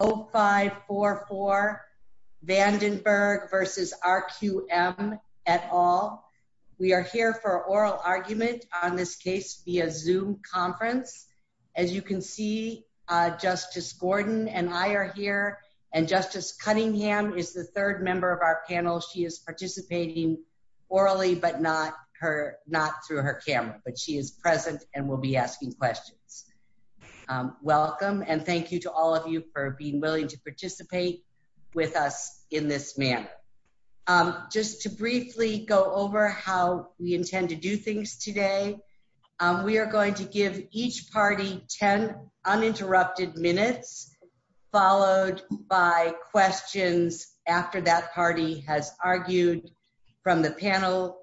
Vandenberg versus RQM et al. We are here for oral argument on this case via Zoom conference. As you can see, Justice Gordon and I are here, and Justice Cunningham is the third member of our panel. She is participating orally but not through her camera, but she is present and will be asking questions. Welcome, and thank you to all of you for being willing to participate with us in this manner. Just to briefly go over how we intend to do things today, we are going to give each party 10 uninterrupted minutes, followed by questions after that party has argued from the panel.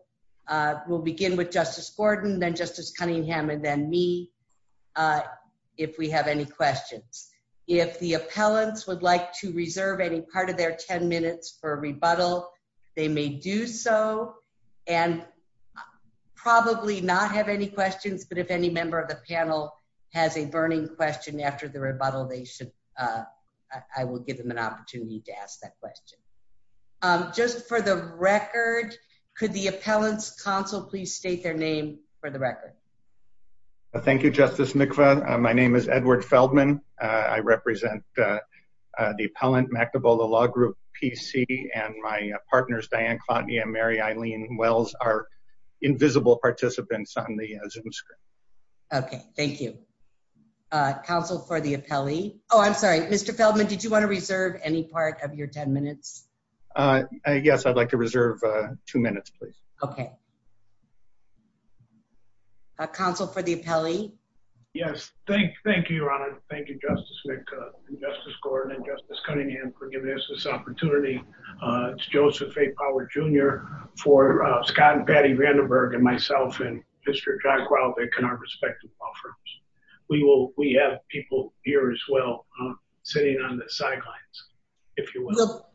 We'll begin with Justice Gordon, then Justice Cunningham, and then me, if we have any questions. If the appellants would like to reserve any part of their 10 minutes for rebuttal, they may do so, and probably not have any questions, but if any member of the panel has a burning question after the rebuttal, I will give them an opportunity to ask that question. Just for the record, could the appellants' counsel please state their name for the record? Thank you, Justice Mikva. My name is Edward Feldman. I represent the Appellant Mactabula Law Group, PC, and my partners, Diane Clotney and Mary Eileen Wells, are invisible participants on the Zoom screen. Okay, thank you. Counsel for the appellee. Oh, I'm sorry. Mr. Feldman, did you want to reserve any part of your 10 minutes? Yes, I'd like to reserve two minutes, please. Okay. Counsel for the appellee. Yes. Thank you, Your Honor. Thank you, Justice Mikva, and Justice Gordon, and Justice Cunningham for giving us this opportunity. It's Joseph A. Power, Jr. for Scott and Patty Vandenberg, and myself and Mr. John Growvick and our respective law firms. We have people here as well sitting on the sidelines, if you will.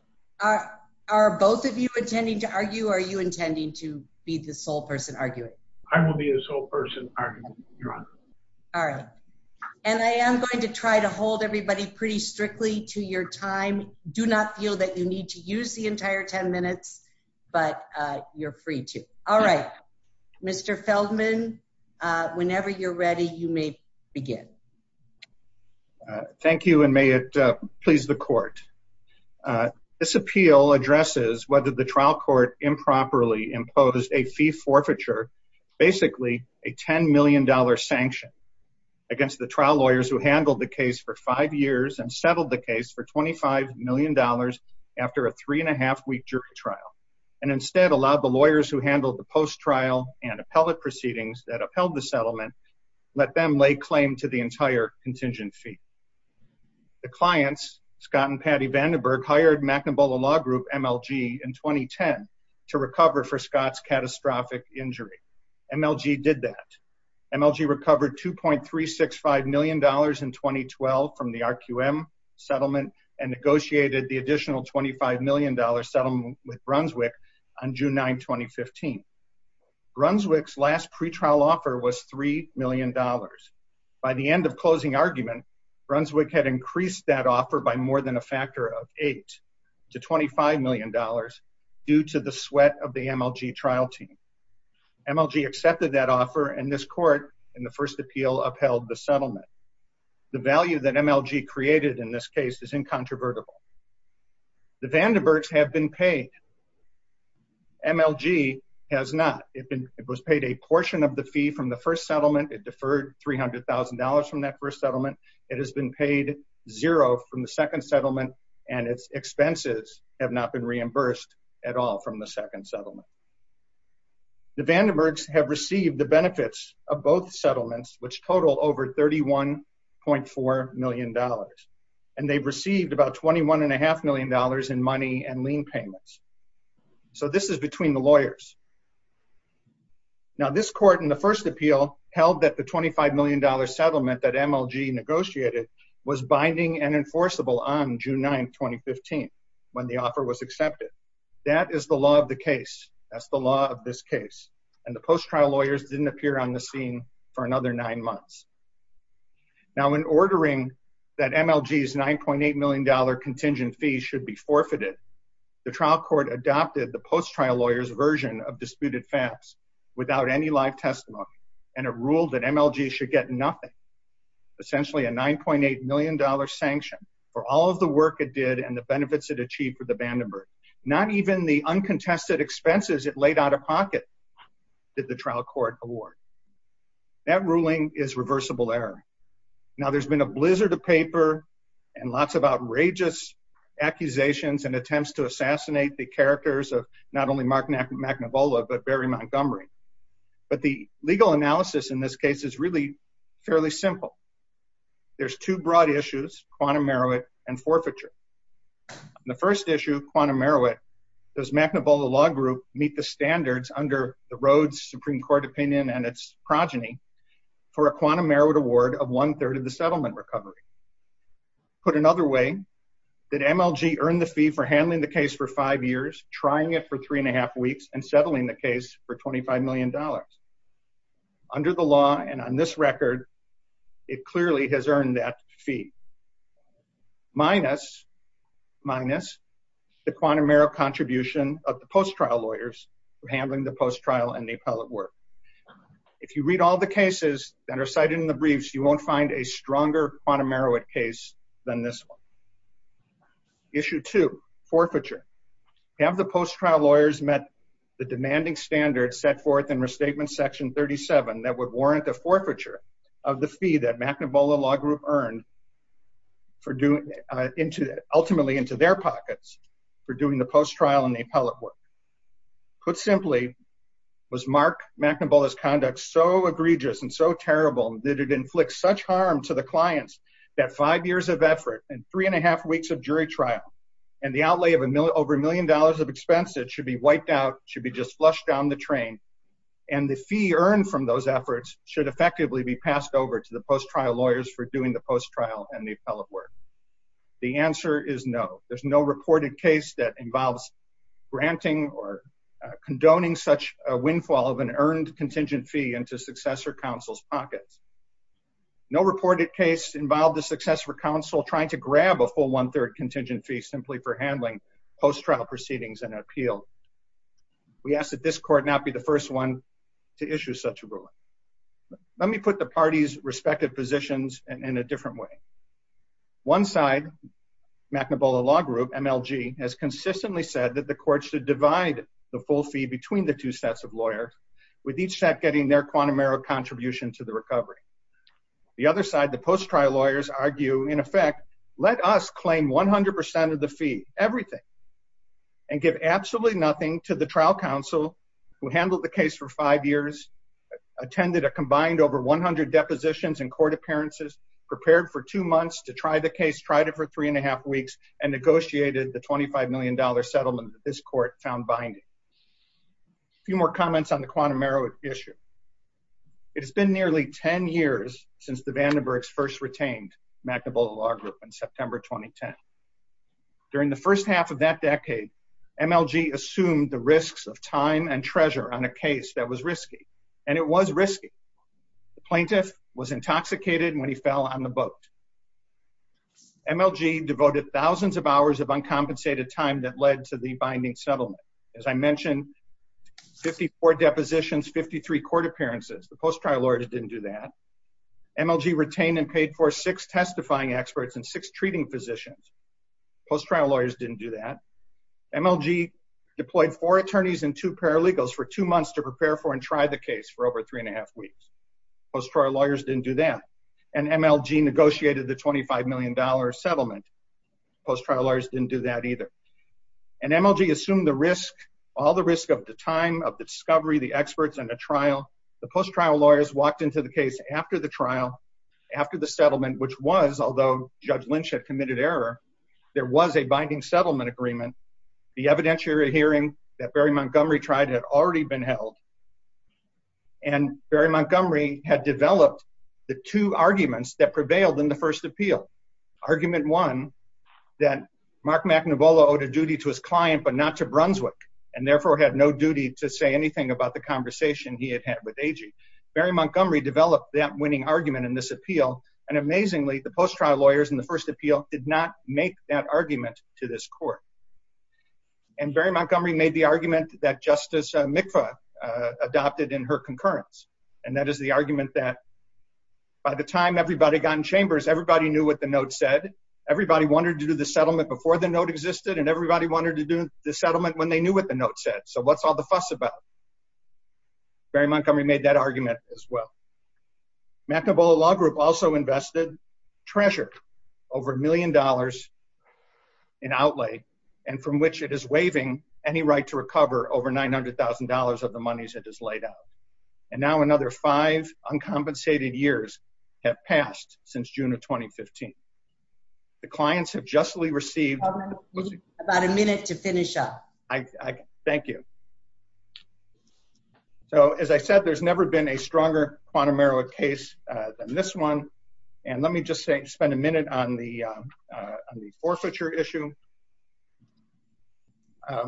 Are both of you intending to argue, or are you intending to be the sole person arguing? I will be the sole person arguing, Your Honor. All right. And I am going to try to hold everybody pretty strictly to your time. Do not feel that you need to use the entire 10 minutes, but you're free to. All right. Mr. Feldman, whenever you're ready, you may begin. Thank you, and may it please the court. This appeal addresses whether the trial court improperly imposed a fee forfeiture, basically a $10 million sanction, against the trial lawyers who handled the case for five years and settled the case for $25 million after a three and a half week jury trial, and instead allowed the lawyers who handled the post trial and appellate proceedings that upheld the settlement, let them lay claim to the entire contingent fee. The clients, Scott and Patty Vandenberg, hired McNabola Law Group, MLG, in 2010 to recover for Scott's catastrophic injury. MLG did that. MLG recovered $2.365 million in 2012 from the RQM settlement and negotiated the additional $25 million settlement with Brunswick on June 9, 2015. Brunswick's last pretrial offer was $3 million. By the end of closing argument, Brunswick had increased that offer by more than a factor of eight to $25 million due to the sweat of the MLG trial team. MLG accepted that offer, and this court, in the first appeal, upheld the settlement. The value that MLG created in this case is incontrovertible. The Vandenbergs have been paid. MLG has not. It was paid a portion of the fee from the first settlement. It deferred $300,000 from that first settlement. It has been paid zero from the second settlement, and its expenses have not been reimbursed at all from the second settlement. The Vandenbergs have received the benefits of both settlements, which total over $31.4 million, and they've received about $21.5 million in money and lien payments. So this is between the lawyers. Now this court, in the first appeal, held that the $25 million settlement that MLG negotiated was binding and enforceable on June 9, 2015, when the offer was accepted. That is the law of the case. That's the law of this case. And the post-trial lawyers didn't appear on the scene for another nine months. Now in ordering that MLG's $9.8 million contingent fee should be forfeited, the trial court adopted the post-trial lawyer's version of disputed facts without any live testimony, and it ruled that MLG should get nothing, essentially a $9.8 million sanction for all of the work it did and the benefits it achieved for the Vandenberg. Not even the uncontested expenses it laid out of pocket did the trial court award. That ruling is reversible error. Now there's been a blizzard of paper and lots of outrageous accusations and attempts to assassinate the characters of not only Mark McNavola, but Barry Montgomery. But the legal analysis in this case is really fairly simple. There's two broad issues, quantum meruit and forfeiture. The first issue, quantum meruit, does McNavola Law Group meet the standards under the Rhodes Supreme Court opinion and its progeny for a quantum meruit award of one-third of the settlement recovery? Put another way, did MLG earn the fee for handling the case for five years, trying it for three and a half weeks, and settling the case for $25 million? Under the law, and on this record, it clearly has earned that fee, minus the quantum meruit contribution of the post-trial lawyers for handling the post-trial and the appellate work. If you read all the cases that are cited in the briefs, you won't find a stronger quantum meruit case than this one. Issue two, forfeiture, have the post-trial lawyers met the demanding standards set forth in Restatement Section 37 that would warrant the forfeiture of the fee that McNavola Law Group earned ultimately into their pockets for doing the post-trial and the appellate work. Put simply, was Mark McNavola's conduct so egregious and so terrible that it inflicts such harm to the clients that five years of effort and three and a half weeks of jury trial and the outlay of over a million dollars of expenses should be wiped out, should be just flushed down the train, and the fee earned from those efforts should effectively be passed over to the post-trial lawyers for doing the post-trial and the appellate work? The answer is no. There's no reported case that involves granting or condoning such a windfall of an earned contingent fee into successor counsel's pockets. No reported case involved the successor counsel trying to grab a full one-third contingent fee simply for handling post-trial proceedings and an appeal. We ask that this court not be the first one to issue such a ruling. Let me put the parties' respective positions in a different way. One side, McNavola Law Group, MLG, has consistently said that the court should divide the full fee between the two sets of lawyers, with each set getting their quantum error contribution to the recovery. The other side, the post-trial lawyers, argue, in effect, let us claim 100% of the fee, everything, and give absolutely nothing to the trial counsel who handled the case for five years, attended a combined over 100 depositions and court appearances, prepared for two months to try the case, tried it for three and a half weeks, and negotiated the $25 million settlement that this court found binding. A few more comments on the quantum error issue. It has been nearly 10 years since the Vandenbergs first retained McNavola Law Group in September 2010. During the first half of that decade, MLG assumed the risks of time and treasure on a case that was risky. And it was risky. The plaintiff was intoxicated when he fell on the boat. MLG devoted thousands of hours of uncompensated time that led to the binding settlement. As I mentioned, 54 depositions, 53 court appearances. The post-trial lawyers didn't do that. MLG retained and paid for six testifying experts and six treating physicians. Post-trial lawyers didn't do that. MLG deployed four attorneys and two paralegals for two months to prepare for and try the case for over three and a half weeks. Post-trial lawyers didn't do that. And MLG negotiated the $25 million settlement. Post-trial lawyers didn't do that either. And MLG assumed the risk, all the risk of the time, of the discovery, the experts, and the trial. The post-trial lawyers walked into the case after the trial, after the settlement, which was, although Judge Lynch had committed error, there was a binding settlement agreement. The evidentiary hearing that Barry Montgomery tried had already been held. And Barry Montgomery had developed the two arguments that prevailed in the first appeal. Argument one, that Mark McNavola owed a duty to his client, but not to Brunswick, and therefore had no duty to say anything about the conversation he had had with AG. Barry Montgomery developed that winning argument in this appeal. And amazingly, the post-trial lawyers in the first appeal did not make that argument to this court. And Barry Montgomery made the argument that Justice Mikva adopted in her concurrence. And that is the argument that by the time everybody got in chambers, everybody knew what the note said. Everybody wanted to do the settlement before the note existed, and everybody wanted to do the settlement when they knew what the note said. So what's all the fuss about? Barry Montgomery made that argument as well. McNavola Law Group also invested treasure, over a million dollars, in outlay, and from which it is waiving any right to recover over $900,000 of the monies it has laid out. And now another five uncompensated years have passed since June of 2015. The clients have justly received— About a minute to finish up. Thank you. So as I said, there's never been a stronger quantum error case than this one. And let me just spend a minute on the forfeiture issue. I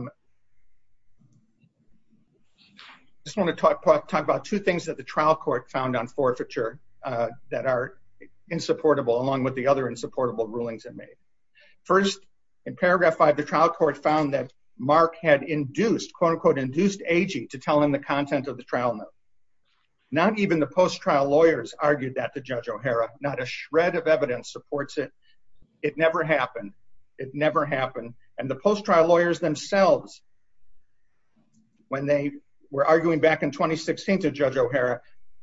just want to talk about two things that the trial court found on forfeiture that are insupportable, along with the other insupportable rulings it made. First, in paragraph five, the trial court found that Mark had induced, quote-unquote, induced Agee to tell him the content of the trial note. Not even the post-trial lawyers argued that to Judge O'Hara. Not a shred of evidence supports it. It never happened. It never happened. And the post-trial lawyers themselves, when they were arguing back in 2016 to Judge O'Hara,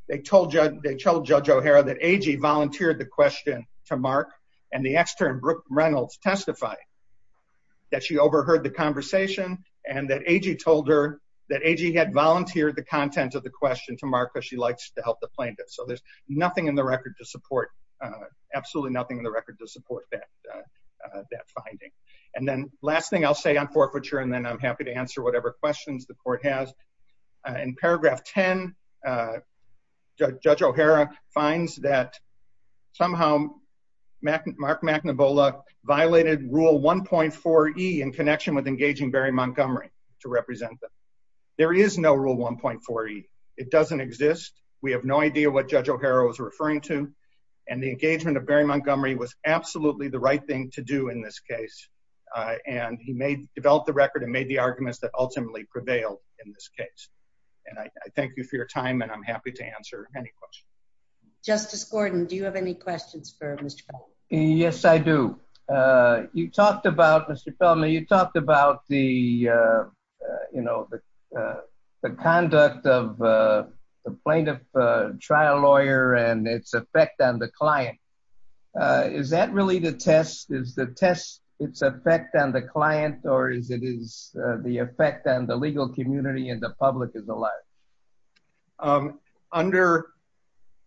they told Judge O'Hara that Agee volunteered the question to Mark, and the extern, Brooke Reynolds, testified that she overheard the conversation and that Agee told her that Agee had volunteered the content of the question to Mark because she likes to help the plaintiffs. So there's nothing in the record to support—absolutely nothing in the record to support that finding. And then last thing I'll say on forfeiture, and then I'm happy to answer whatever questions the court has. In paragraph 10, Judge O'Hara finds that somehow Mark McNabola violated rule 1.4E in connection with engaging Barry Montgomery to represent them. There is no rule 1.4E. It doesn't exist. We have no idea what Judge O'Hara was referring to, and the engagement of Barry Montgomery was absolutely the right thing to do in this case. And he developed the record and made the arguments that ultimately prevailed in this case. And I thank you for your time, and I'm happy to answer any questions. Justice Gordon, do you have any questions for Mr. Feldman? Yes, I do. You talked about, Mr. Feldman, you talked about the, you know, the conduct of the plaintiff trial lawyer and its effect on the client. Is that really the test? Is the test its effect on the client, or is it the effect on the legal community and the public as a large? Under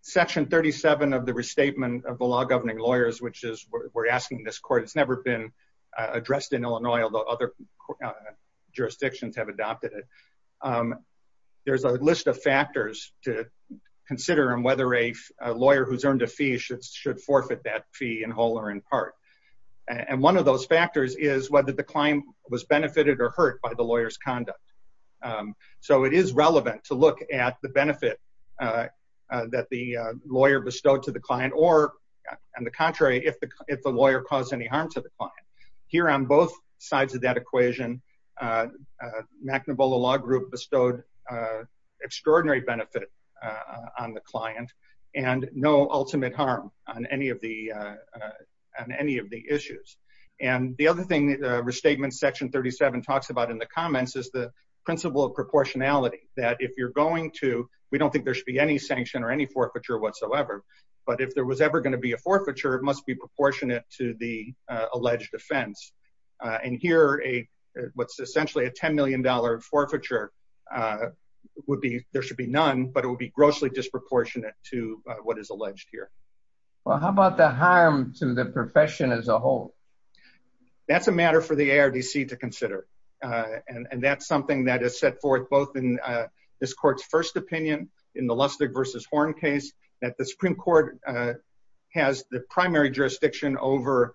section 37 of the Restatement of the Law Governing Lawyers, which is, we're asking this court, it's never been addressed in Illinois, although other jurisdictions have adopted it. There's a list of factors to consider on whether a lawyer who's earned a fee should forfeit that fee in whole or in part. And one of those factors is whether the client was benefited or hurt by the lawyer's conduct. So it is relevant to look at the benefit that the lawyer bestowed to the client or, on the contrary, if the lawyer caused any harm to the client. Here on both sides of that equation, McNabola Law Group bestowed extraordinary benefit on the client and no ultimate harm on any of the issues. And the other thing Restatement section 37 talks about in the comments is the principle of proportionality, that if you're going to, we don't think there should be any sanction or any forfeiture whatsoever, but if there was ever going to be a forfeiture, it must be proportionate to the alleged offense. And here, what's essentially a $10 million forfeiture would be, there should be none, but it would be grossly disproportionate to what is alleged here. Well, how about the harm to the profession as a whole? That's a matter for the ARDC to consider. And that's something that is set forth both in this court's first opinion in the Lustig versus Horne case, that the Supreme Court has the primary jurisdiction over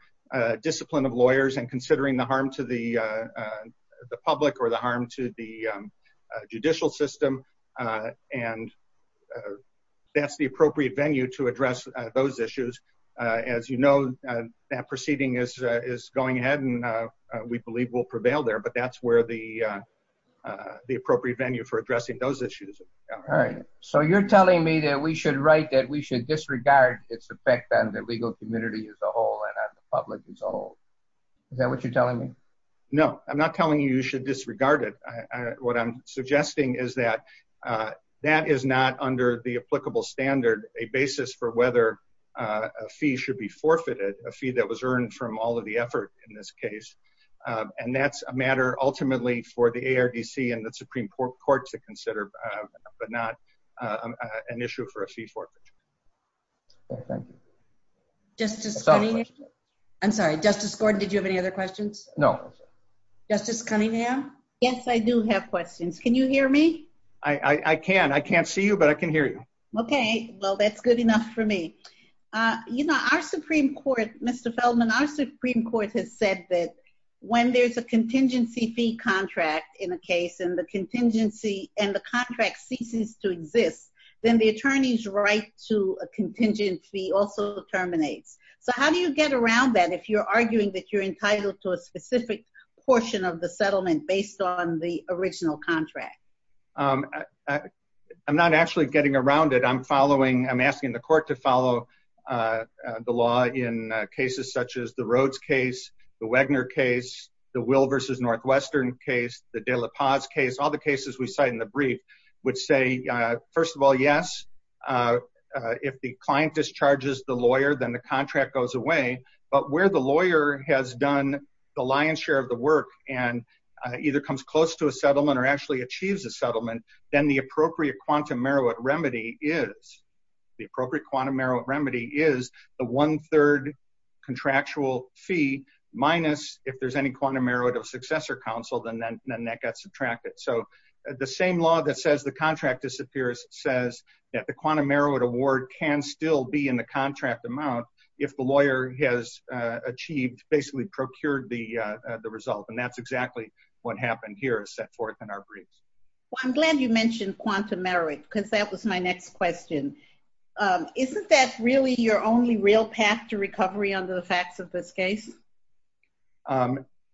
discipline of lawyers and considering the harm to the public or the harm to the judicial system and that's the appropriate venue to address those issues. As you know, that proceeding is going ahead and we believe will prevail there, but that's where the appropriate venue for addressing those issues. All right. So you're telling me that we should write that we should disregard its effect on the legal community as a whole and on the public as a whole. Is that what you're telling me? No, I'm not telling you you should disregard it. What I'm suggesting is that that is not under the applicable standard, a basis for whether a fee should be forfeited, a fee that was earned from all of the effort in this case. And that's a matter ultimately for the ARDC and the Supreme Court to consider, but not an issue for a fee forfeiture. Justice Cunningham, I'm sorry, Justice Gordon, did you have any other questions? No. Justice Cunningham? Yes, I do have questions. Can you hear me? I can. I can't see you, but I can hear you. Okay. Well, that's good enough for me. You know, our Supreme Court, Mr. Feldman, our Supreme Court has said that when there's a contingency fee contract in a case and the contingency and the contract ceases to exist, then the attorney's right to a contingent fee also terminates. So how do you get around that if you're arguing that you're entitled to a specific portion of the settlement based on the original contract? I'm not actually getting around it. I'm following, I'm asking the court to follow the law in cases such as the Rhodes case, the Wagner case, the Will v. Northwestern case, the De La Paz case, all the cases we cite in the brief, which say, first of all, yes, if the client discharges the lawyer, then the contract goes away. But where the lawyer has done the lion's share of the work and either comes close to a settlement or actually achieves a settlement, then the appropriate quantum merit remedy is the one third contractual fee minus if there's any quantum merit of successor counsel, then that gets subtracted. So the same law that says the contract disappears says that the quantum merit award can still be in the contract amount if the lawyer has achieved, basically procured the result. And that's exactly what happened here is set forth in our briefs. I'm glad you mentioned quantum merit because that was my next question. Isn't that really your only real path to recovery under the facts of this case?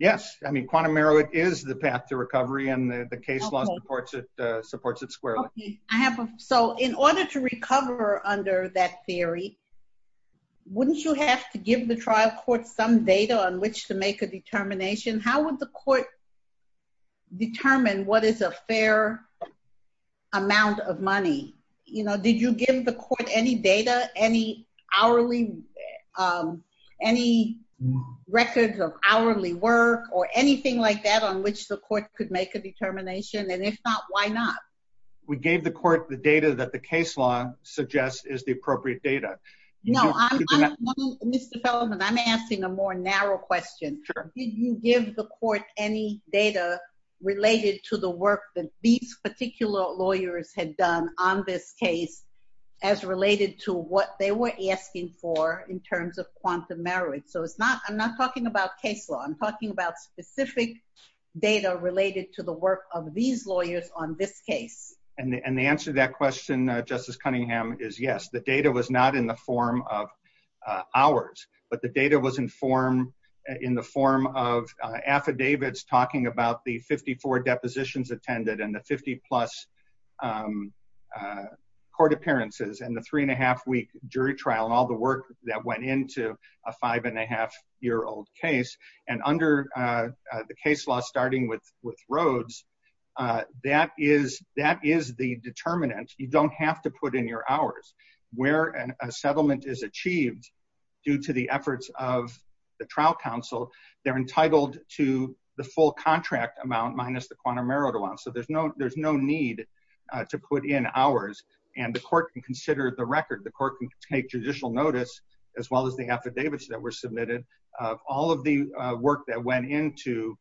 Yes. I mean, quantum merit is the path to recovery and the case law supports it squarely. So in order to recover under that theory, wouldn't you have to give the trial court some data on which to make a determination? How would the court determine what is a fair amount of money? Did you give the court any data, any records of hourly work or anything like that on which the court could make a determination? And if not, why not? We gave the court the data that the case law suggests is the appropriate data. No, Mr. Feldman, I'm asking a more narrow question. Did you give the court any data related to the work that these particular lawyers had done on this case as related to what they were asking for in terms of quantum merit? So it's not, I'm not talking about case law. I'm talking about specific data related to the work of these lawyers on this case. And the answer to that question, Justice Cunningham, is yes. The data was not in the form of hours, but the data was in the form of affidavits talking about the 54 depositions attended and the 50 plus court appearances and the three and a half week jury trial and all the work that went into a five and a half year old case. And under the case law, starting with Rhodes, that is the determinant. You don't have to put in your hours. Where a settlement is achieved due to the efforts of the trial counsel, they're entitled to the full contract amount minus the quantum merit amount. So there's no need to put in hours. And the court can consider the record. The court can take judicial notice as well as the affidavits that were submitted. All of the work that went into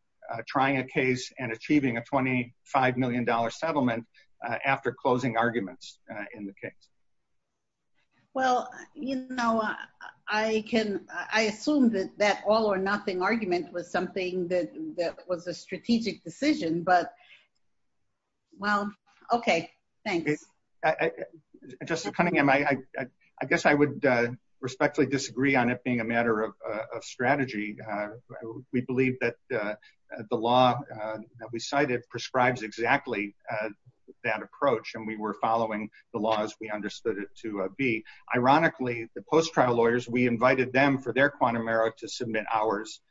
trying a case and achieving a $25 million settlement after closing arguments in the case. Well, you know, I can, I assume that that all or nothing argument was something that was a strategic decision, but well, okay. Thanks. I just, I guess I would respectfully disagree on it being a matter of strategy. We believe that the law that we cited prescribes exactly that approach. And we were following the law as we understood it to be. Ironically, the post-trial lawyers, we invited them for their quantum merit to submit hours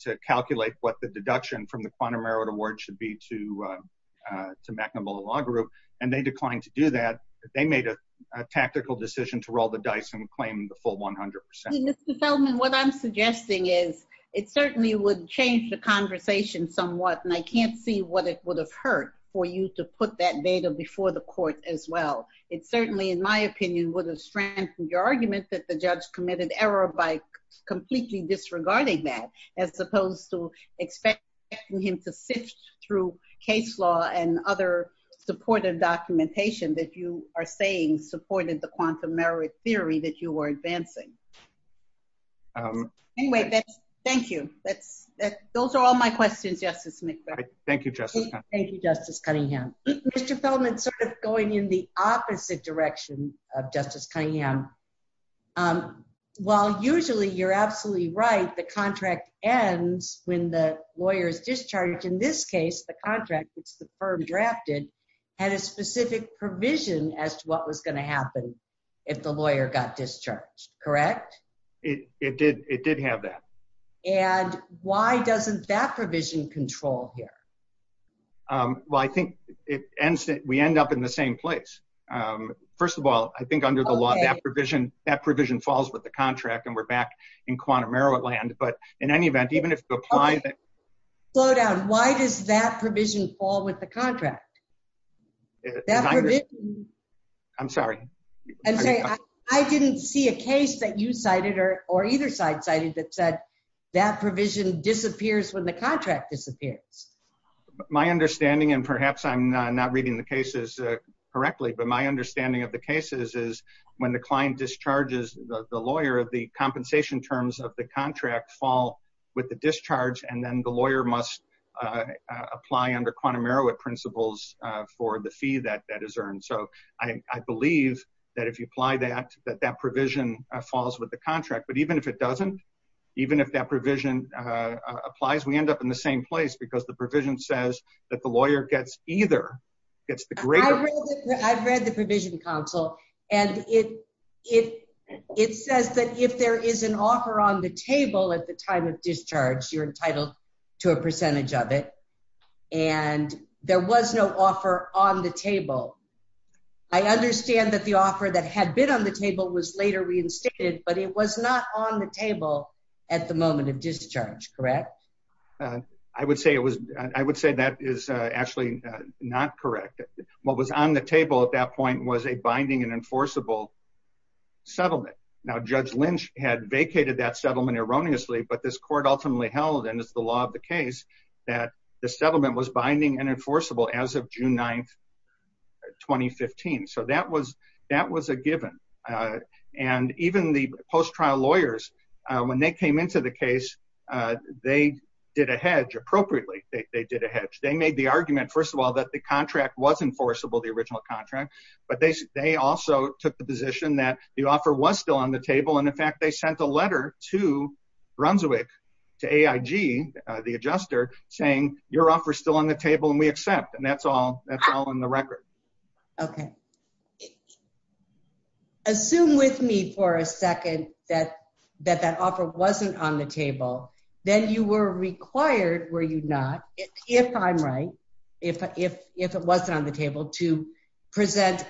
to calculate what the deduction from the quantum merit award should be to the law group. And they declined to do that. They made a tactical decision to roll the dice and claim the full 100%. Mr. Feldman, what I'm suggesting is it certainly would change the conversation somewhat. And I can't see what it would have hurt for you to put that data before the court as well. It certainly, in my opinion, would have strengthened your argument that the judge committed error by completely disregarding that as opposed to expecting him to sift through case law and other supportive documentation that you are saying supported the quantum merit theory that you were advancing. Anyway, thank you. Those are all my questions, Justice McBeth. Thank you, Justice Cunningham. Thank you, Justice Cunningham. Mr. Feldman, sort of going in the opposite direction of Justice Cunningham. While usually you're absolutely right, the contract ends when the lawyer is discharged. In this case, the contract, which the firm drafted, had a specific provision as to what was going to happen if the lawyer got discharged. Correct? It did. It did have that. And why doesn't that provision control here? Well, I think we end up in the same place. First of all, I think under the law, that provision falls with the contract. And we're back in quantum merit land. But in any event, even if you apply that... Slow down. Why does that provision fall with the contract? I'm sorry. I didn't see a case that you cited or either side cited that said that provision disappears when the contract disappears. My understanding, and perhaps I'm not reading the cases correctly, but my understanding of cases is when the client discharges the lawyer, the compensation terms of the contract fall with the discharge. And then the lawyer must apply under quantum merit principles for the fee that is earned. So I believe that if you apply that, that that provision falls with the contract. But even if it doesn't, even if that provision applies, we end up in the same place because the provision says that the lawyer gets either. I've read the provision counsel and it says that if there is an offer on the table at the time of discharge, you're entitled to a percentage of it. And there was no offer on the table. I understand that the offer that had been on the table was later reinstated, but it was not on the table at the moment of discharge, correct? Uh, I would say it was, I would say that is actually not correct. What was on the table at that point was a binding and enforceable settlement. Now, Judge Lynch had vacated that settlement erroneously, but this court ultimately held and it's the law of the case that the settlement was binding and enforceable as of June 9th, 2015. So that was, that was a given. And even the post-trial lawyers, when they came into the case, they did a hedge appropriately. They did a hedge. They made the argument, first of all, that the contract was enforceable, the original contract, but they also took the position that the offer was still on the table. And in fact, they sent a letter to Brunswick, to AIG, the adjuster, saying your offer is still on the table and we accept. And that's all, that's all in the record. Okay. Assume with me for a second that, that that offer wasn't on the table, then you were required, were you not, if I'm right, if, if, if it wasn't on the table to present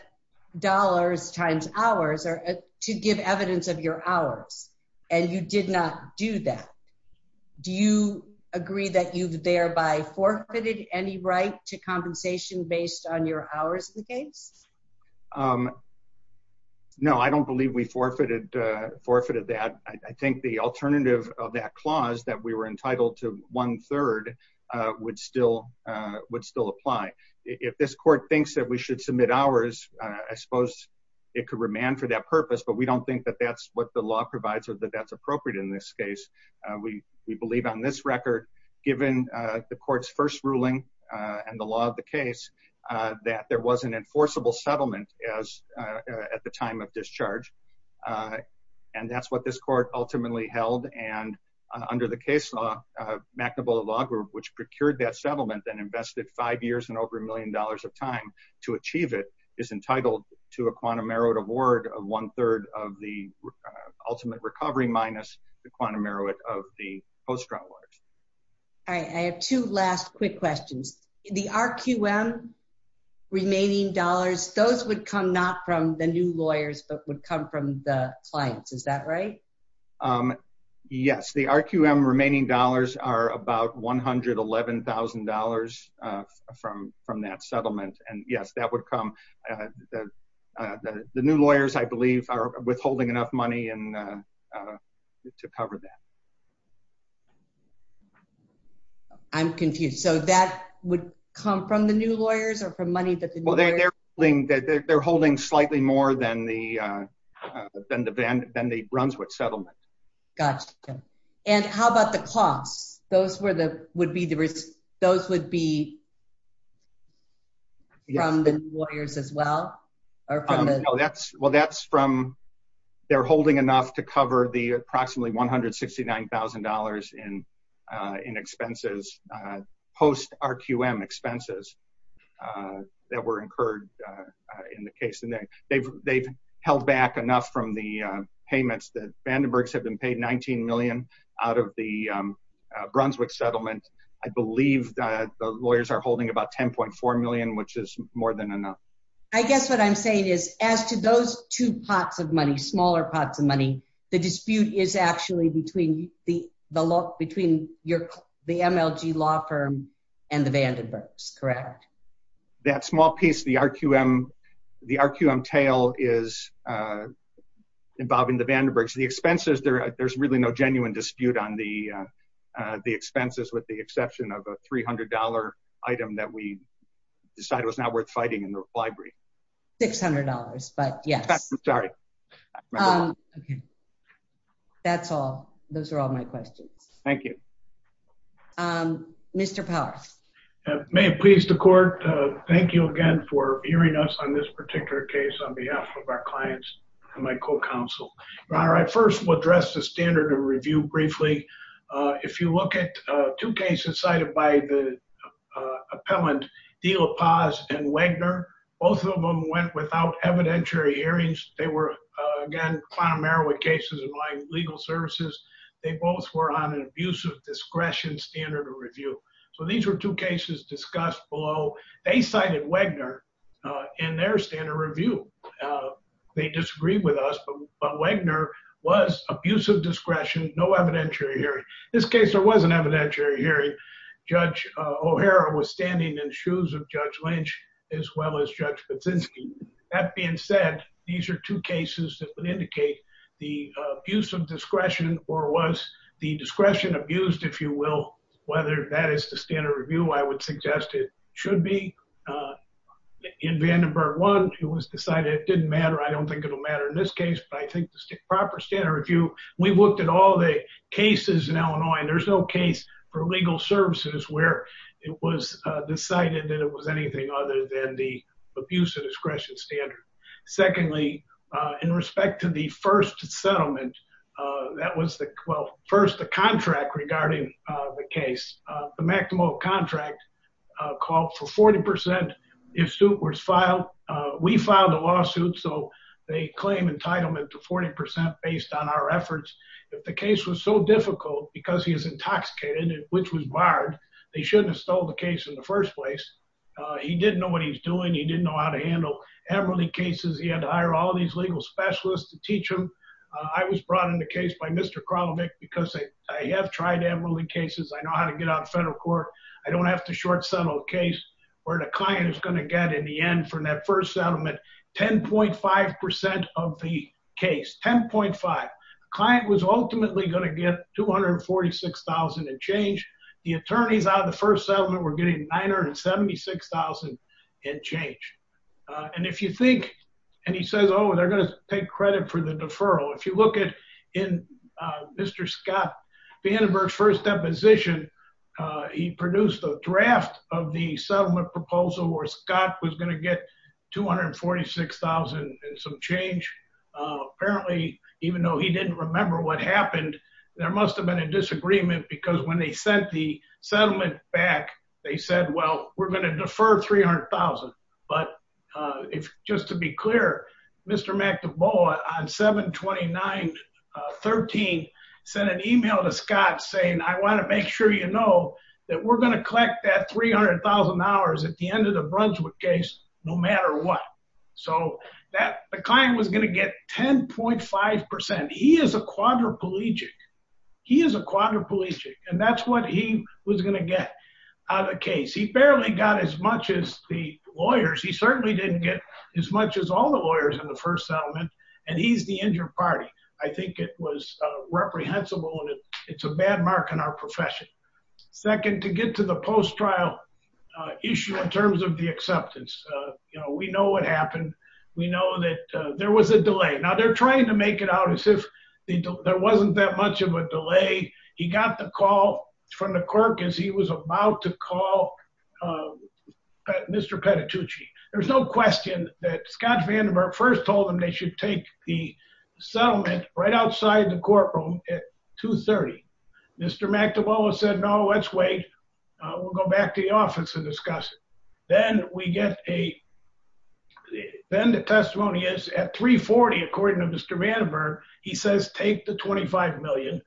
dollars times hours or to give evidence of your hours and you did not do that. Do you agree that you've thereby forfeited any right to compensation based on your hours in the case? Um, no, I don't believe we forfeited, uh, forfeited that. I think the alternative of that clause that we were entitled to one third, uh, would still, uh, would still apply. If this court thinks that we should submit hours, uh, I suppose it could remand for that purpose, but we don't think that that's what the law provides or that that's appropriate in this case. Uh, we, we believe on this record, given, uh, the court's first ruling, uh, and the enforceable settlement as, uh, uh, at the time of discharge, uh, and that's what this court ultimately held. And, uh, under the case law, uh, McNamara law group, which procured that settlement and invested five years and over a million dollars of time to achieve it is entitled to a quantum merit award of one third of the ultimate recovery minus the quantum merit of the post-traumatic stress disorder. All right. I have two last quick questions. The RQM remaining dollars, those would come not from the new lawyers, but would come from the clients. Is that right? Um, yes, the RQM remaining dollars are about $111,000, uh, from, from that settlement. And yes, that would come, uh, the, uh, the, the new lawyers, I believe are withholding enough money and, uh, uh, to cover that. I'm confused. So that would come from the new lawyers or from money that they're holding slightly more than the, uh, uh, than the van, than the Brunswick settlement. Gotcha. And how about the costs? Those were the, would be the risk. Those would be from the lawyers as well, or from the, well, that's from, they're holding to cover the approximately $169,000 in, uh, in expenses, uh, post RQM expenses, uh, that were incurred, uh, uh, in the case. And they've, they've held back enough from the, uh, payments that Vandenberg's have been paid 19 million out of the, um, uh, Brunswick settlement. I believe that the lawyers are holding about 10.4 million, which is more than enough. I guess what I'm saying is as to those two pots of money, smaller pots of money, the dispute is actually between the, the law, between your, the MLG law firm and the Vandenberg's, correct? That small piece of the RQM, the RQM tail is, uh, involving the Vandenberg's, the expenses there, there's really no genuine dispute on the, uh, uh, the expenses with the exception of a $300 item that we decided was not worth fighting in the library. $600. But yes, I'm sorry. Okay. That's all. Those are all my questions. Thank you. Um, Mr. Powers. May it please the court. Uh, thank you again for hearing us on this particular case on behalf of our clients and my co-counsel. All right. First we'll address the standard of review briefly. Uh, if you look at, uh, two cases cited by the, uh, appellant deal, a pause and Wagner, both of them went without evidentiary hearings. They were, uh, again, Clown Marrow with cases of my legal services. They both were on an abusive discretion standard of review. So these were two cases discussed below. They cited Wagner, uh, in their standard review. Uh, they disagree with us, but, but Wagner was abusive discretion. No evidentiary hearing. This case, there was an evidentiary hearing. Judge, uh, O'Hara was standing in shoes of judge Lynch as well as judge. But since that being said, these are two cases that would indicate the abuse of discretion or was the discretion abused, if you will, whether that is the standard review, I would suggest it should be, uh, in Vandenberg one, it was decided. It didn't matter. I don't think it'll matter in this case, but I think the proper standard review, we've all the cases in Illinois, and there's no case for legal services where it was decided that it was anything other than the abuse of discretion standard. Secondly, uh, in respect to the first settlement, uh, that was the, well, first the contract regarding, uh, the case, uh, the maximum contract, uh, called for 40%. If stoopwards filed, uh, we filed a lawsuit. So they claim entitlement to 40% based on our efforts. If the case was so difficult because he is intoxicated, which was barred, they shouldn't have stole the case in the first place. Uh, he didn't know what he was doing. He didn't know how to handle everybody cases. He had to hire all of these legal specialists to teach him. I was brought in the case by Mr. Kralovic because I have tried to have really cases. I know how to get out of federal court. I don't have to short settle a case where the client is going to get in the end from that first settlement, 10.5% of the case, 10.5 client was ultimately going to get 246,000 and change the attorneys out of the first settlement. We're getting 976,000 and change. Uh, and if you think, and he says, oh, they're going to take credit for the deferral. If you look at in, uh, Mr. Scott Vandenberg's first deposition, uh, he produced a draft of the settlement proposal where Scott was going to get 246,000 and some change. Uh, apparently, even though he didn't remember what happened, there must've been a disagreement because when they sent the settlement back, they said, well, we're going to defer 300,000. But, uh, if just to be clear, Mr. McDevoe on seven 29, uh, 13 sent an email to Scott saying, I want to make sure you know that we're going to collect that 300,000 hours at the end of the Brunswick case, no matter what. So that the client was going to get 10.5%. He is a quadriplegic. He is a quadriplegic. And that's what he was going to get out of the case. He barely got as much as the lawyers. He certainly didn't get as much as all the lawyers in the first settlement. And he's the injured party. I think it was, uh, reprehensible and it's a bad mark on our profession. Second, to get to the post-trial, uh, issue in terms of the acceptance, uh, you know, we know what happened. We know that, uh, there was a delay. Now they're trying to make it out as if there wasn't that much of a delay. He got the call from the clerk as he was about to call, uh, Mr. Petitucci. There was no question that Scott Vandenberg first told them they should take the settlement right outside the courtroom at 2.30. Mr. McDevoe said, no, let's wait. We'll go back to the office and discuss it. Then we get a, then the testimony is at 3.40, according to Mr. Vandenberg. He says, take the 25 million.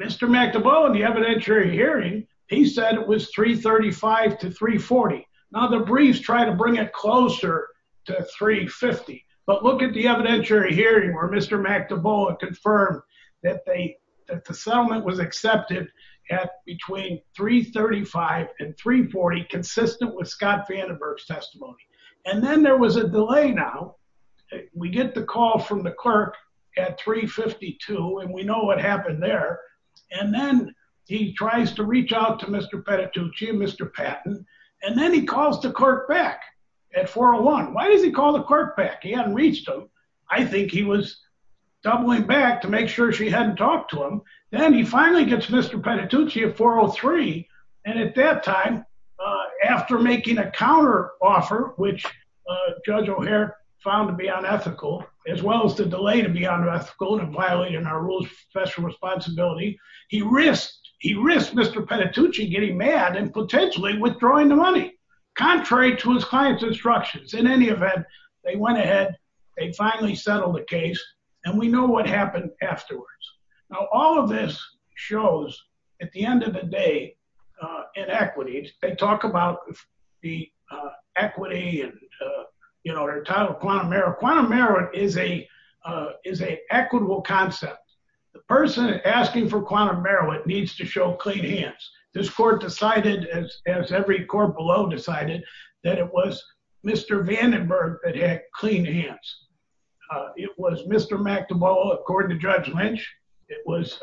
Mr. McDevoe in the evidentiary hearing, he said it was 3.35 to 3.40. Now the briefs try to bring it closer to 3.50, but look at the evidentiary hearing where Mr. McDevoe confirmed that they, that the settlement was accepted at between 3.35 and 3.40 consistent with Scott Vandenberg's testimony. And then there was a delay. Now we get the call from the clerk at 3.52 and we know what happened there. And then he tries to reach out to Mr. Petitucci and Mr. Patton, and then he calls the clerk back at 4.01. Why does he call the clerk back? He hadn't reached him. I think he was doubling back to make sure she hadn't talked to him. Then he finally gets Mr. Petitucci at 4.03. And at that time, after making a counter offer, which Judge O'Hare found to be unethical, as well as the delay to be unethical and violating our rules of professional responsibility, he risked, he risked Mr. Petitucci getting mad and potentially withdrawing the money, contrary to his client's instructions. In any event, they went ahead, they finally settled the case, and we know what happened afterwards. Now, all of this shows, at the end of the day, inequity. They talk about the equity and, you know, their title of quantum merit. Quantum merit is a, is a equitable concept. The person asking for quantum merit needs to show clean hands. This court decided, as every court below decided, that it was Mr. Vandenberg that had clean hands. It was Mr. McTobolo, according to Judge Lynch. It was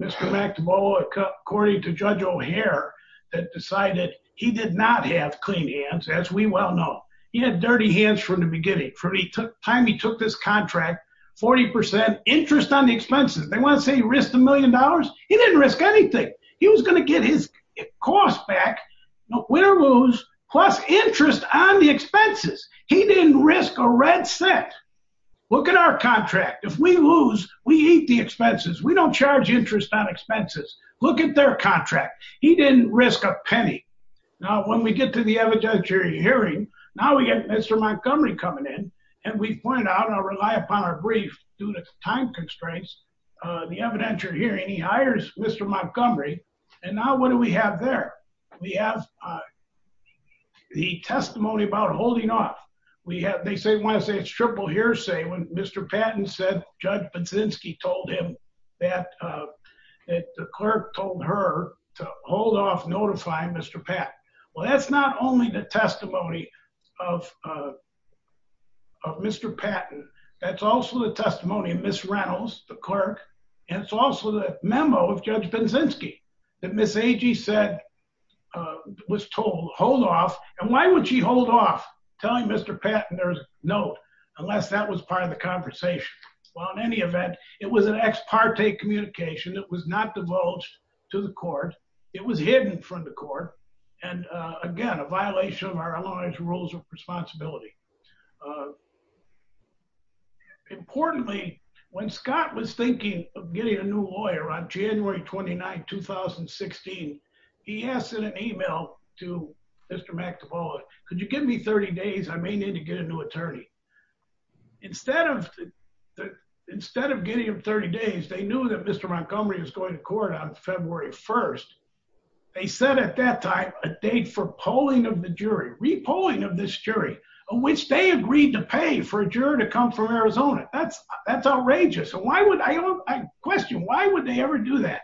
Mr. McTobolo, according to Judge O'Hare, that decided he did not have clean hands, as we well know. He had dirty hands from the beginning. From the time he took this contract, 40% interest on the expenses. They want to say he risked a million dollars? He didn't risk anything. He was going to get his cost back, win or lose, plus interest on the expenses. He didn't risk a red cent. Look at our contract. If we lose, we eat the expenses. We don't charge interest on expenses. Look at their contract. He didn't risk a penny. Now, when we get to the evidentiary hearing, now we get Mr. Montgomery coming in, and we point out, and I'll rely upon our brief, due to time constraints, the evidentiary hearing, he hires Mr. Montgomery, and now what do we have there? We have the testimony about holding off. They want to say it's triple hearsay. When Mr. Patton said, Judge Baczynski told him that the clerk told her to hold off notifying Mr. Patton. Well, that's not only the testimony of Mr. Patton. That's also the testimony of Ms. Reynolds, the clerk. And it's also the memo of Judge Baczynski that Ms. Agee said, was told, hold off. And why would she hold off telling Mr. Patton there's a note, unless that was part of the conversation? Well, in any event, it was an ex parte communication. It was not divulged to the court. It was hidden from the court. And again, a violation of our law's rules of responsibility. Importantly, when Scott was thinking of getting a new lawyer on January 29, 2016, he asked in an email to Mr. McEvoy, could you give me 30 days? I may need to get a new attorney. Instead of getting him 30 days, they knew that Mr. Montgomery was going to court on February 1st. They set at that time a date for polling of the jury, repolling of this jury. Which they agreed to pay for a juror to come from Arizona. That's outrageous. Why would, I question, why would they ever do that?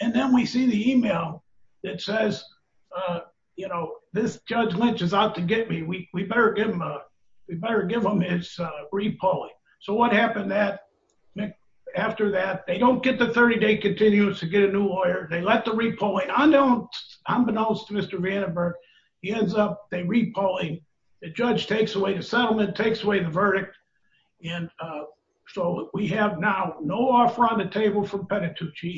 And then we see the email that says, you know, this Judge Lynch is out to get me. We better give him his repolling. So what happened after that? They don't get the 30-day continuous to get a new lawyer. They let the repolling, unbeknownst to Mr. Vandenberg, he ends up repolling. The judge takes away the settlement, takes away the verdict. And so we have now no offer on the table for Penitucci.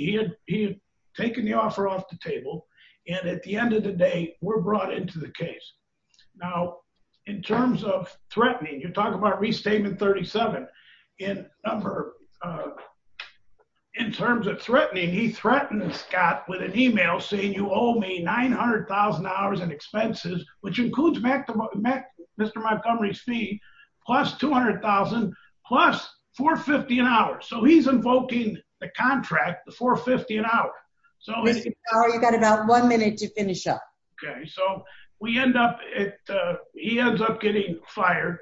He had taken the offer off the table. And at the end of the day, we're brought into the case. Now, in terms of threatening, you're talking about Restatement 37. In terms of threatening, he threatened Scott with an email saying you owe me $900,000 in Mr. Montgomery's fee, plus $200,000, plus $450,000 an hour. So he's invoking the contract, the $450,000 an hour. So you got about one minute to finish up. Okay. So we end up at, he ends up getting fired.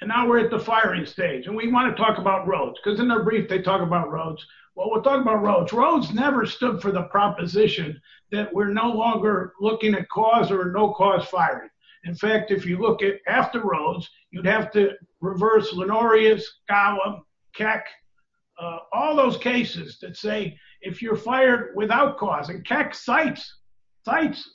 And now we're at the firing stage. And we want to talk about Rhodes. Because in their brief, they talk about Rhodes. Well, we'll talk about Rhodes. Rhodes never stood for the proposition that we're no longer looking at cause or no cause firing. In fact, if you look at after Rhodes, you'd have to reverse Lenorius, Gallim, Keck, all those cases that say, if you're fired without cause, and Keck cites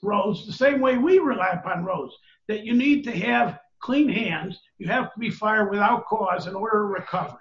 Rhodes the same way we rely upon Rhodes, that you need to have clean hands. You have to be fired without cause in order to recover.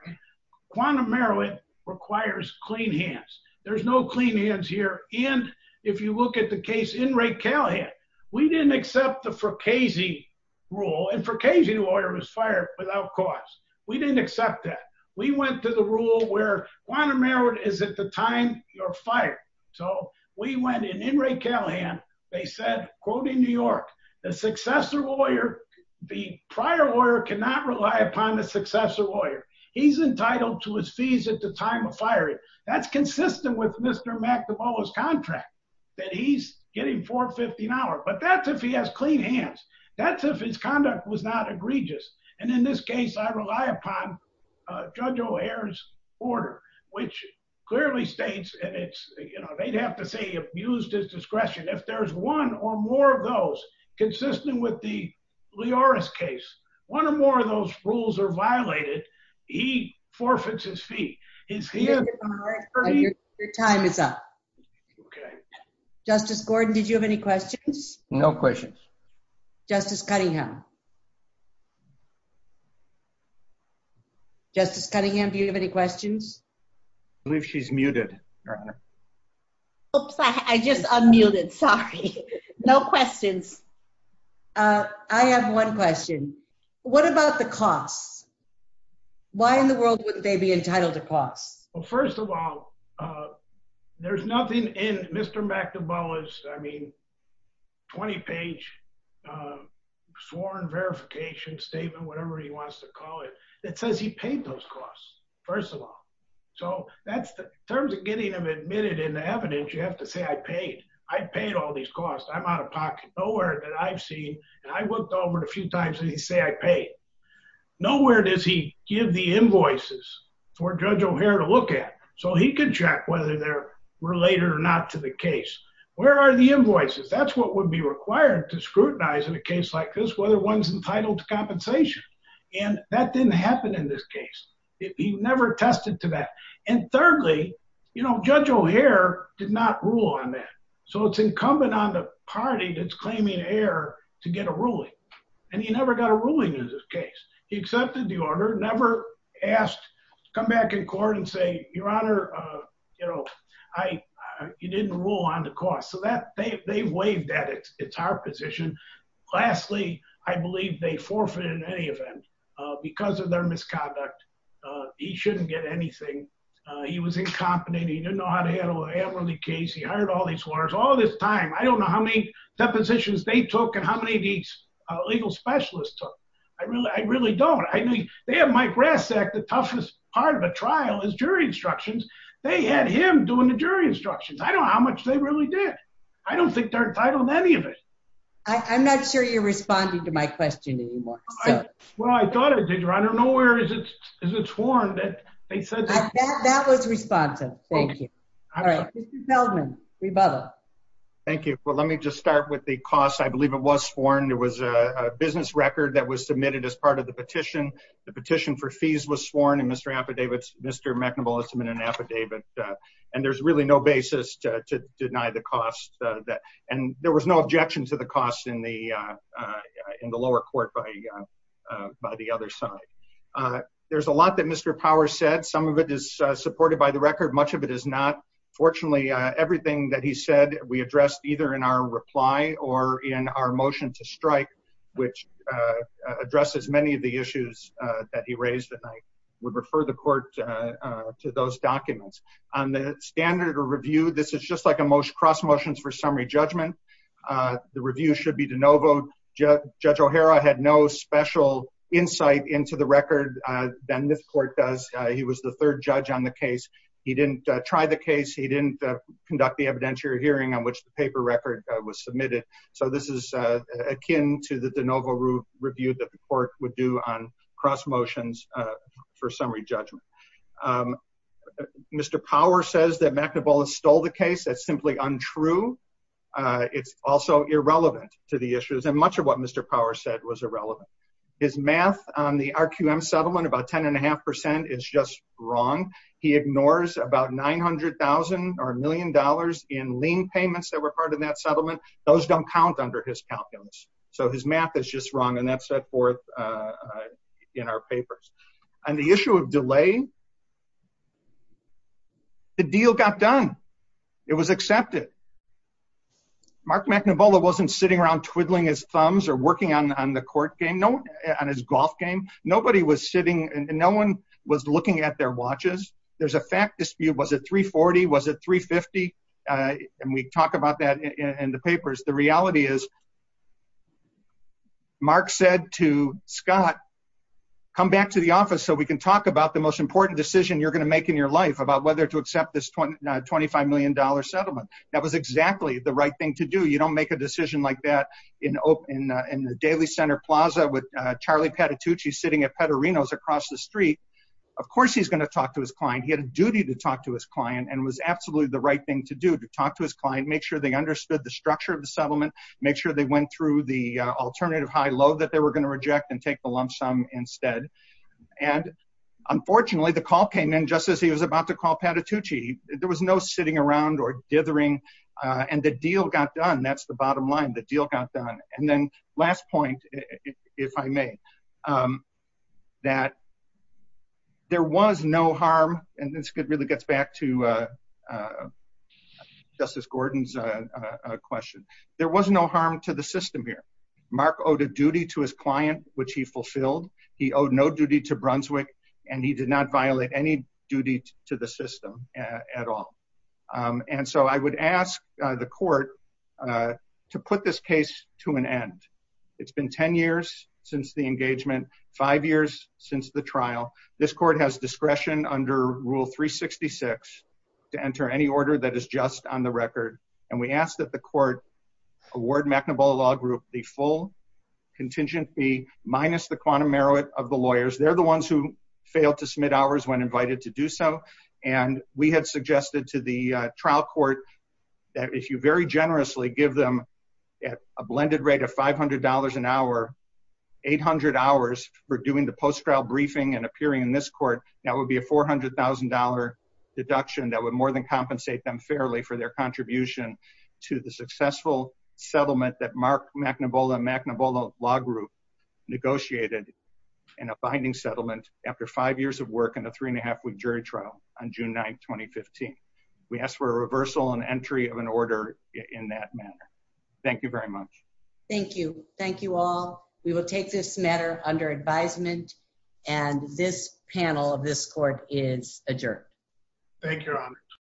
Quantum heroin requires clean hands. There's no clean hands here. And if you look at the case in Ray Callahan, we didn't accept the Fracasi rule. And Fracasi lawyer was fired without cause. We didn't accept that. We went to the rule where quantum heroin is at the time you're fired. So we went in Ray Callahan. They said, quoting New York, the successor lawyer, the prior lawyer cannot rely upon the successor lawyer. He's entitled to his fees at the time of firing. That's consistent with Mr. McNamara's contract that he's getting $450. But that's if he has clean hands. That's if his conduct was not egregious. And in this case, I rely upon Judge O'Hare's order, which clearly states, and it's, you know, they'd have to say he abused his discretion. If there's one or more of those consistent with the Lioris case, one or more of those rules are violated, he forfeits his fee. His fee is $450. Your time is up. Justice Gordon, did you have any questions? No questions. Justice Cunningham. Justice Cunningham, do you have any questions? I believe she's muted. Oops, I just unmuted. Sorry. No questions. I have one question. What about the costs? Why in the world wouldn't they be entitled to costs? Well, first of all, there's nothing in Mr. McNamara's, I mean, 20-page sworn verification statement, whatever he wants to call it, that says he paid those costs, first of all. So in terms of getting them admitted in the evidence, you have to say I paid. I paid all these costs. I'm out of pocket. Nowhere that I've seen, and I looked over it a few times, and they say I paid. Nowhere does he give the invoices for Judge O'Hare to look at, so he can check whether they're related or not to the case. Where are the invoices? That's what would be required to scrutinize in a case like this, whether one's entitled to compensation. And that didn't happen in this case. He never attested to that. And thirdly, you know, Judge O'Hare did not rule on that. So it's incumbent on the party that's claiming error to get a ruling. And he never got a ruling in this case. He accepted the order, never asked to come back in court and say, Your Honor, you know, you didn't rule on the cost. So they've waived that. It's our position. Lastly, I believe they forfeit in any event because of their misconduct. He shouldn't get anything. He was incompetent. He didn't know how to handle an admiralty case. He hired all these lawyers all this time. I don't know how many depositions they took and how many of these legal specialists took. I really don't. I mean, they have Mike Rasek. The toughest part of a trial is jury instructions. They had him doing the jury instructions. I don't know how much they really did. I don't think they're entitled to any of it. I'm not sure you're responding to my question anymore. Well, I thought I did, Your Honor. Nowhere is it sworn that they said that. That was responsive. Thank you. All right, Mr. Feldman, rebuttal. Thank you. Well, let me just start with the cost. I believe it was sworn. It was a business record that was submitted as part of the petition. The petition for fees was sworn. And Mr. McNamara has submitted an affidavit. And there's really no basis to deny the cost. And there was no objection to the cost in the lower court by the other side. There's a lot that Mr. Power said. Some of it is supported by the record. Much of it is not. Fortunately, everything that he said, we addressed either in our reply or in our motion to strike, which addresses many of the issues that he raised. And I would refer the court to those documents. On the standard of review, this is just like a most cross motions for summary judgment. The review should be de novo. Judge O'Hara had no special insight into the record than this court does. He was the third judge on the case. He didn't try the case. He didn't conduct the evidentiary hearing on which the paper record was submitted. So this is akin to the de novo review that the court would do on cross motions for summary judgment. Mr. Power says that McNamara stole the case. That's simply untrue. It's also irrelevant to the issues. And much of what Mr. Power said was irrelevant. His math on the RQM settlement, about 10.5%, is just wrong. He ignores about $900,000 or $1 million in lien payments that were part of that settlement. Those don't count under his calculus. So his math is just wrong. And that's set forth in our papers. On the issue of delay, the deal got done. It was accepted. Mark McNamara wasn't sitting around twiddling his thumbs or working on the court game, on his golf game. Nobody was sitting and no one was looking at their watches. There's a fact dispute. Was it $340,000? Was it $350,000? And we talk about that in the papers. The reality is Mark said to Scott, come back to the office so we can talk about the most important decision you're going to make in your life about whether to accept this $25 million settlement. That was exactly the right thing to do. You don't make a decision like that in the Daily Center Plaza with Charlie Patitucci sitting at Petarino's across the street. Of course, he's going to talk to his client. He had a duty to talk to his client and was absolutely the right thing to do to talk to his client, make sure they understood the structure of the settlement, make sure they went through the alternative high-low that they were going to reject and take the lump sum instead. And unfortunately, the call came in just as he was about to call Patitucci. There was no sitting around or dithering. And the deal got done. That's the bottom line. The deal got done. And then last point, if I may, that there was no harm. And this really gets back to Justice Gordon's question. There was no harm to the system here. Mark owed a duty to his client, which he fulfilled. He owed no duty to Brunswick. And he did not violate any duty to the system at all. And so I would ask the court to put this case to an end. It's been 10 years since the engagement, five years since the trial. This court has discretion under Rule 366 to enter any order that is just on the record. And we asked that the court award McNaball Law Group the full contingency minus the quantum merit of the lawyers. They're the ones who failed to submit ours when invited to do so. And we had suggested to the trial court that if you very generously give them a blended rate of $500 an hour, 800 hours for doing the post-trial briefing and appearing in this court, that would be a $400,000 deduction that would more than compensate them fairly for their contribution to the successful settlement that Mark McNaball and McNaball Law Group negotiated in a binding settlement after five years of work and a three and a half on June 9th, 2015. We ask for a reversal and entry of an order in that manner. Thank you very much. Thank you. Thank you all. We will take this matter under advisement and this panel of this court is adjourned. Thank you, Your Honor.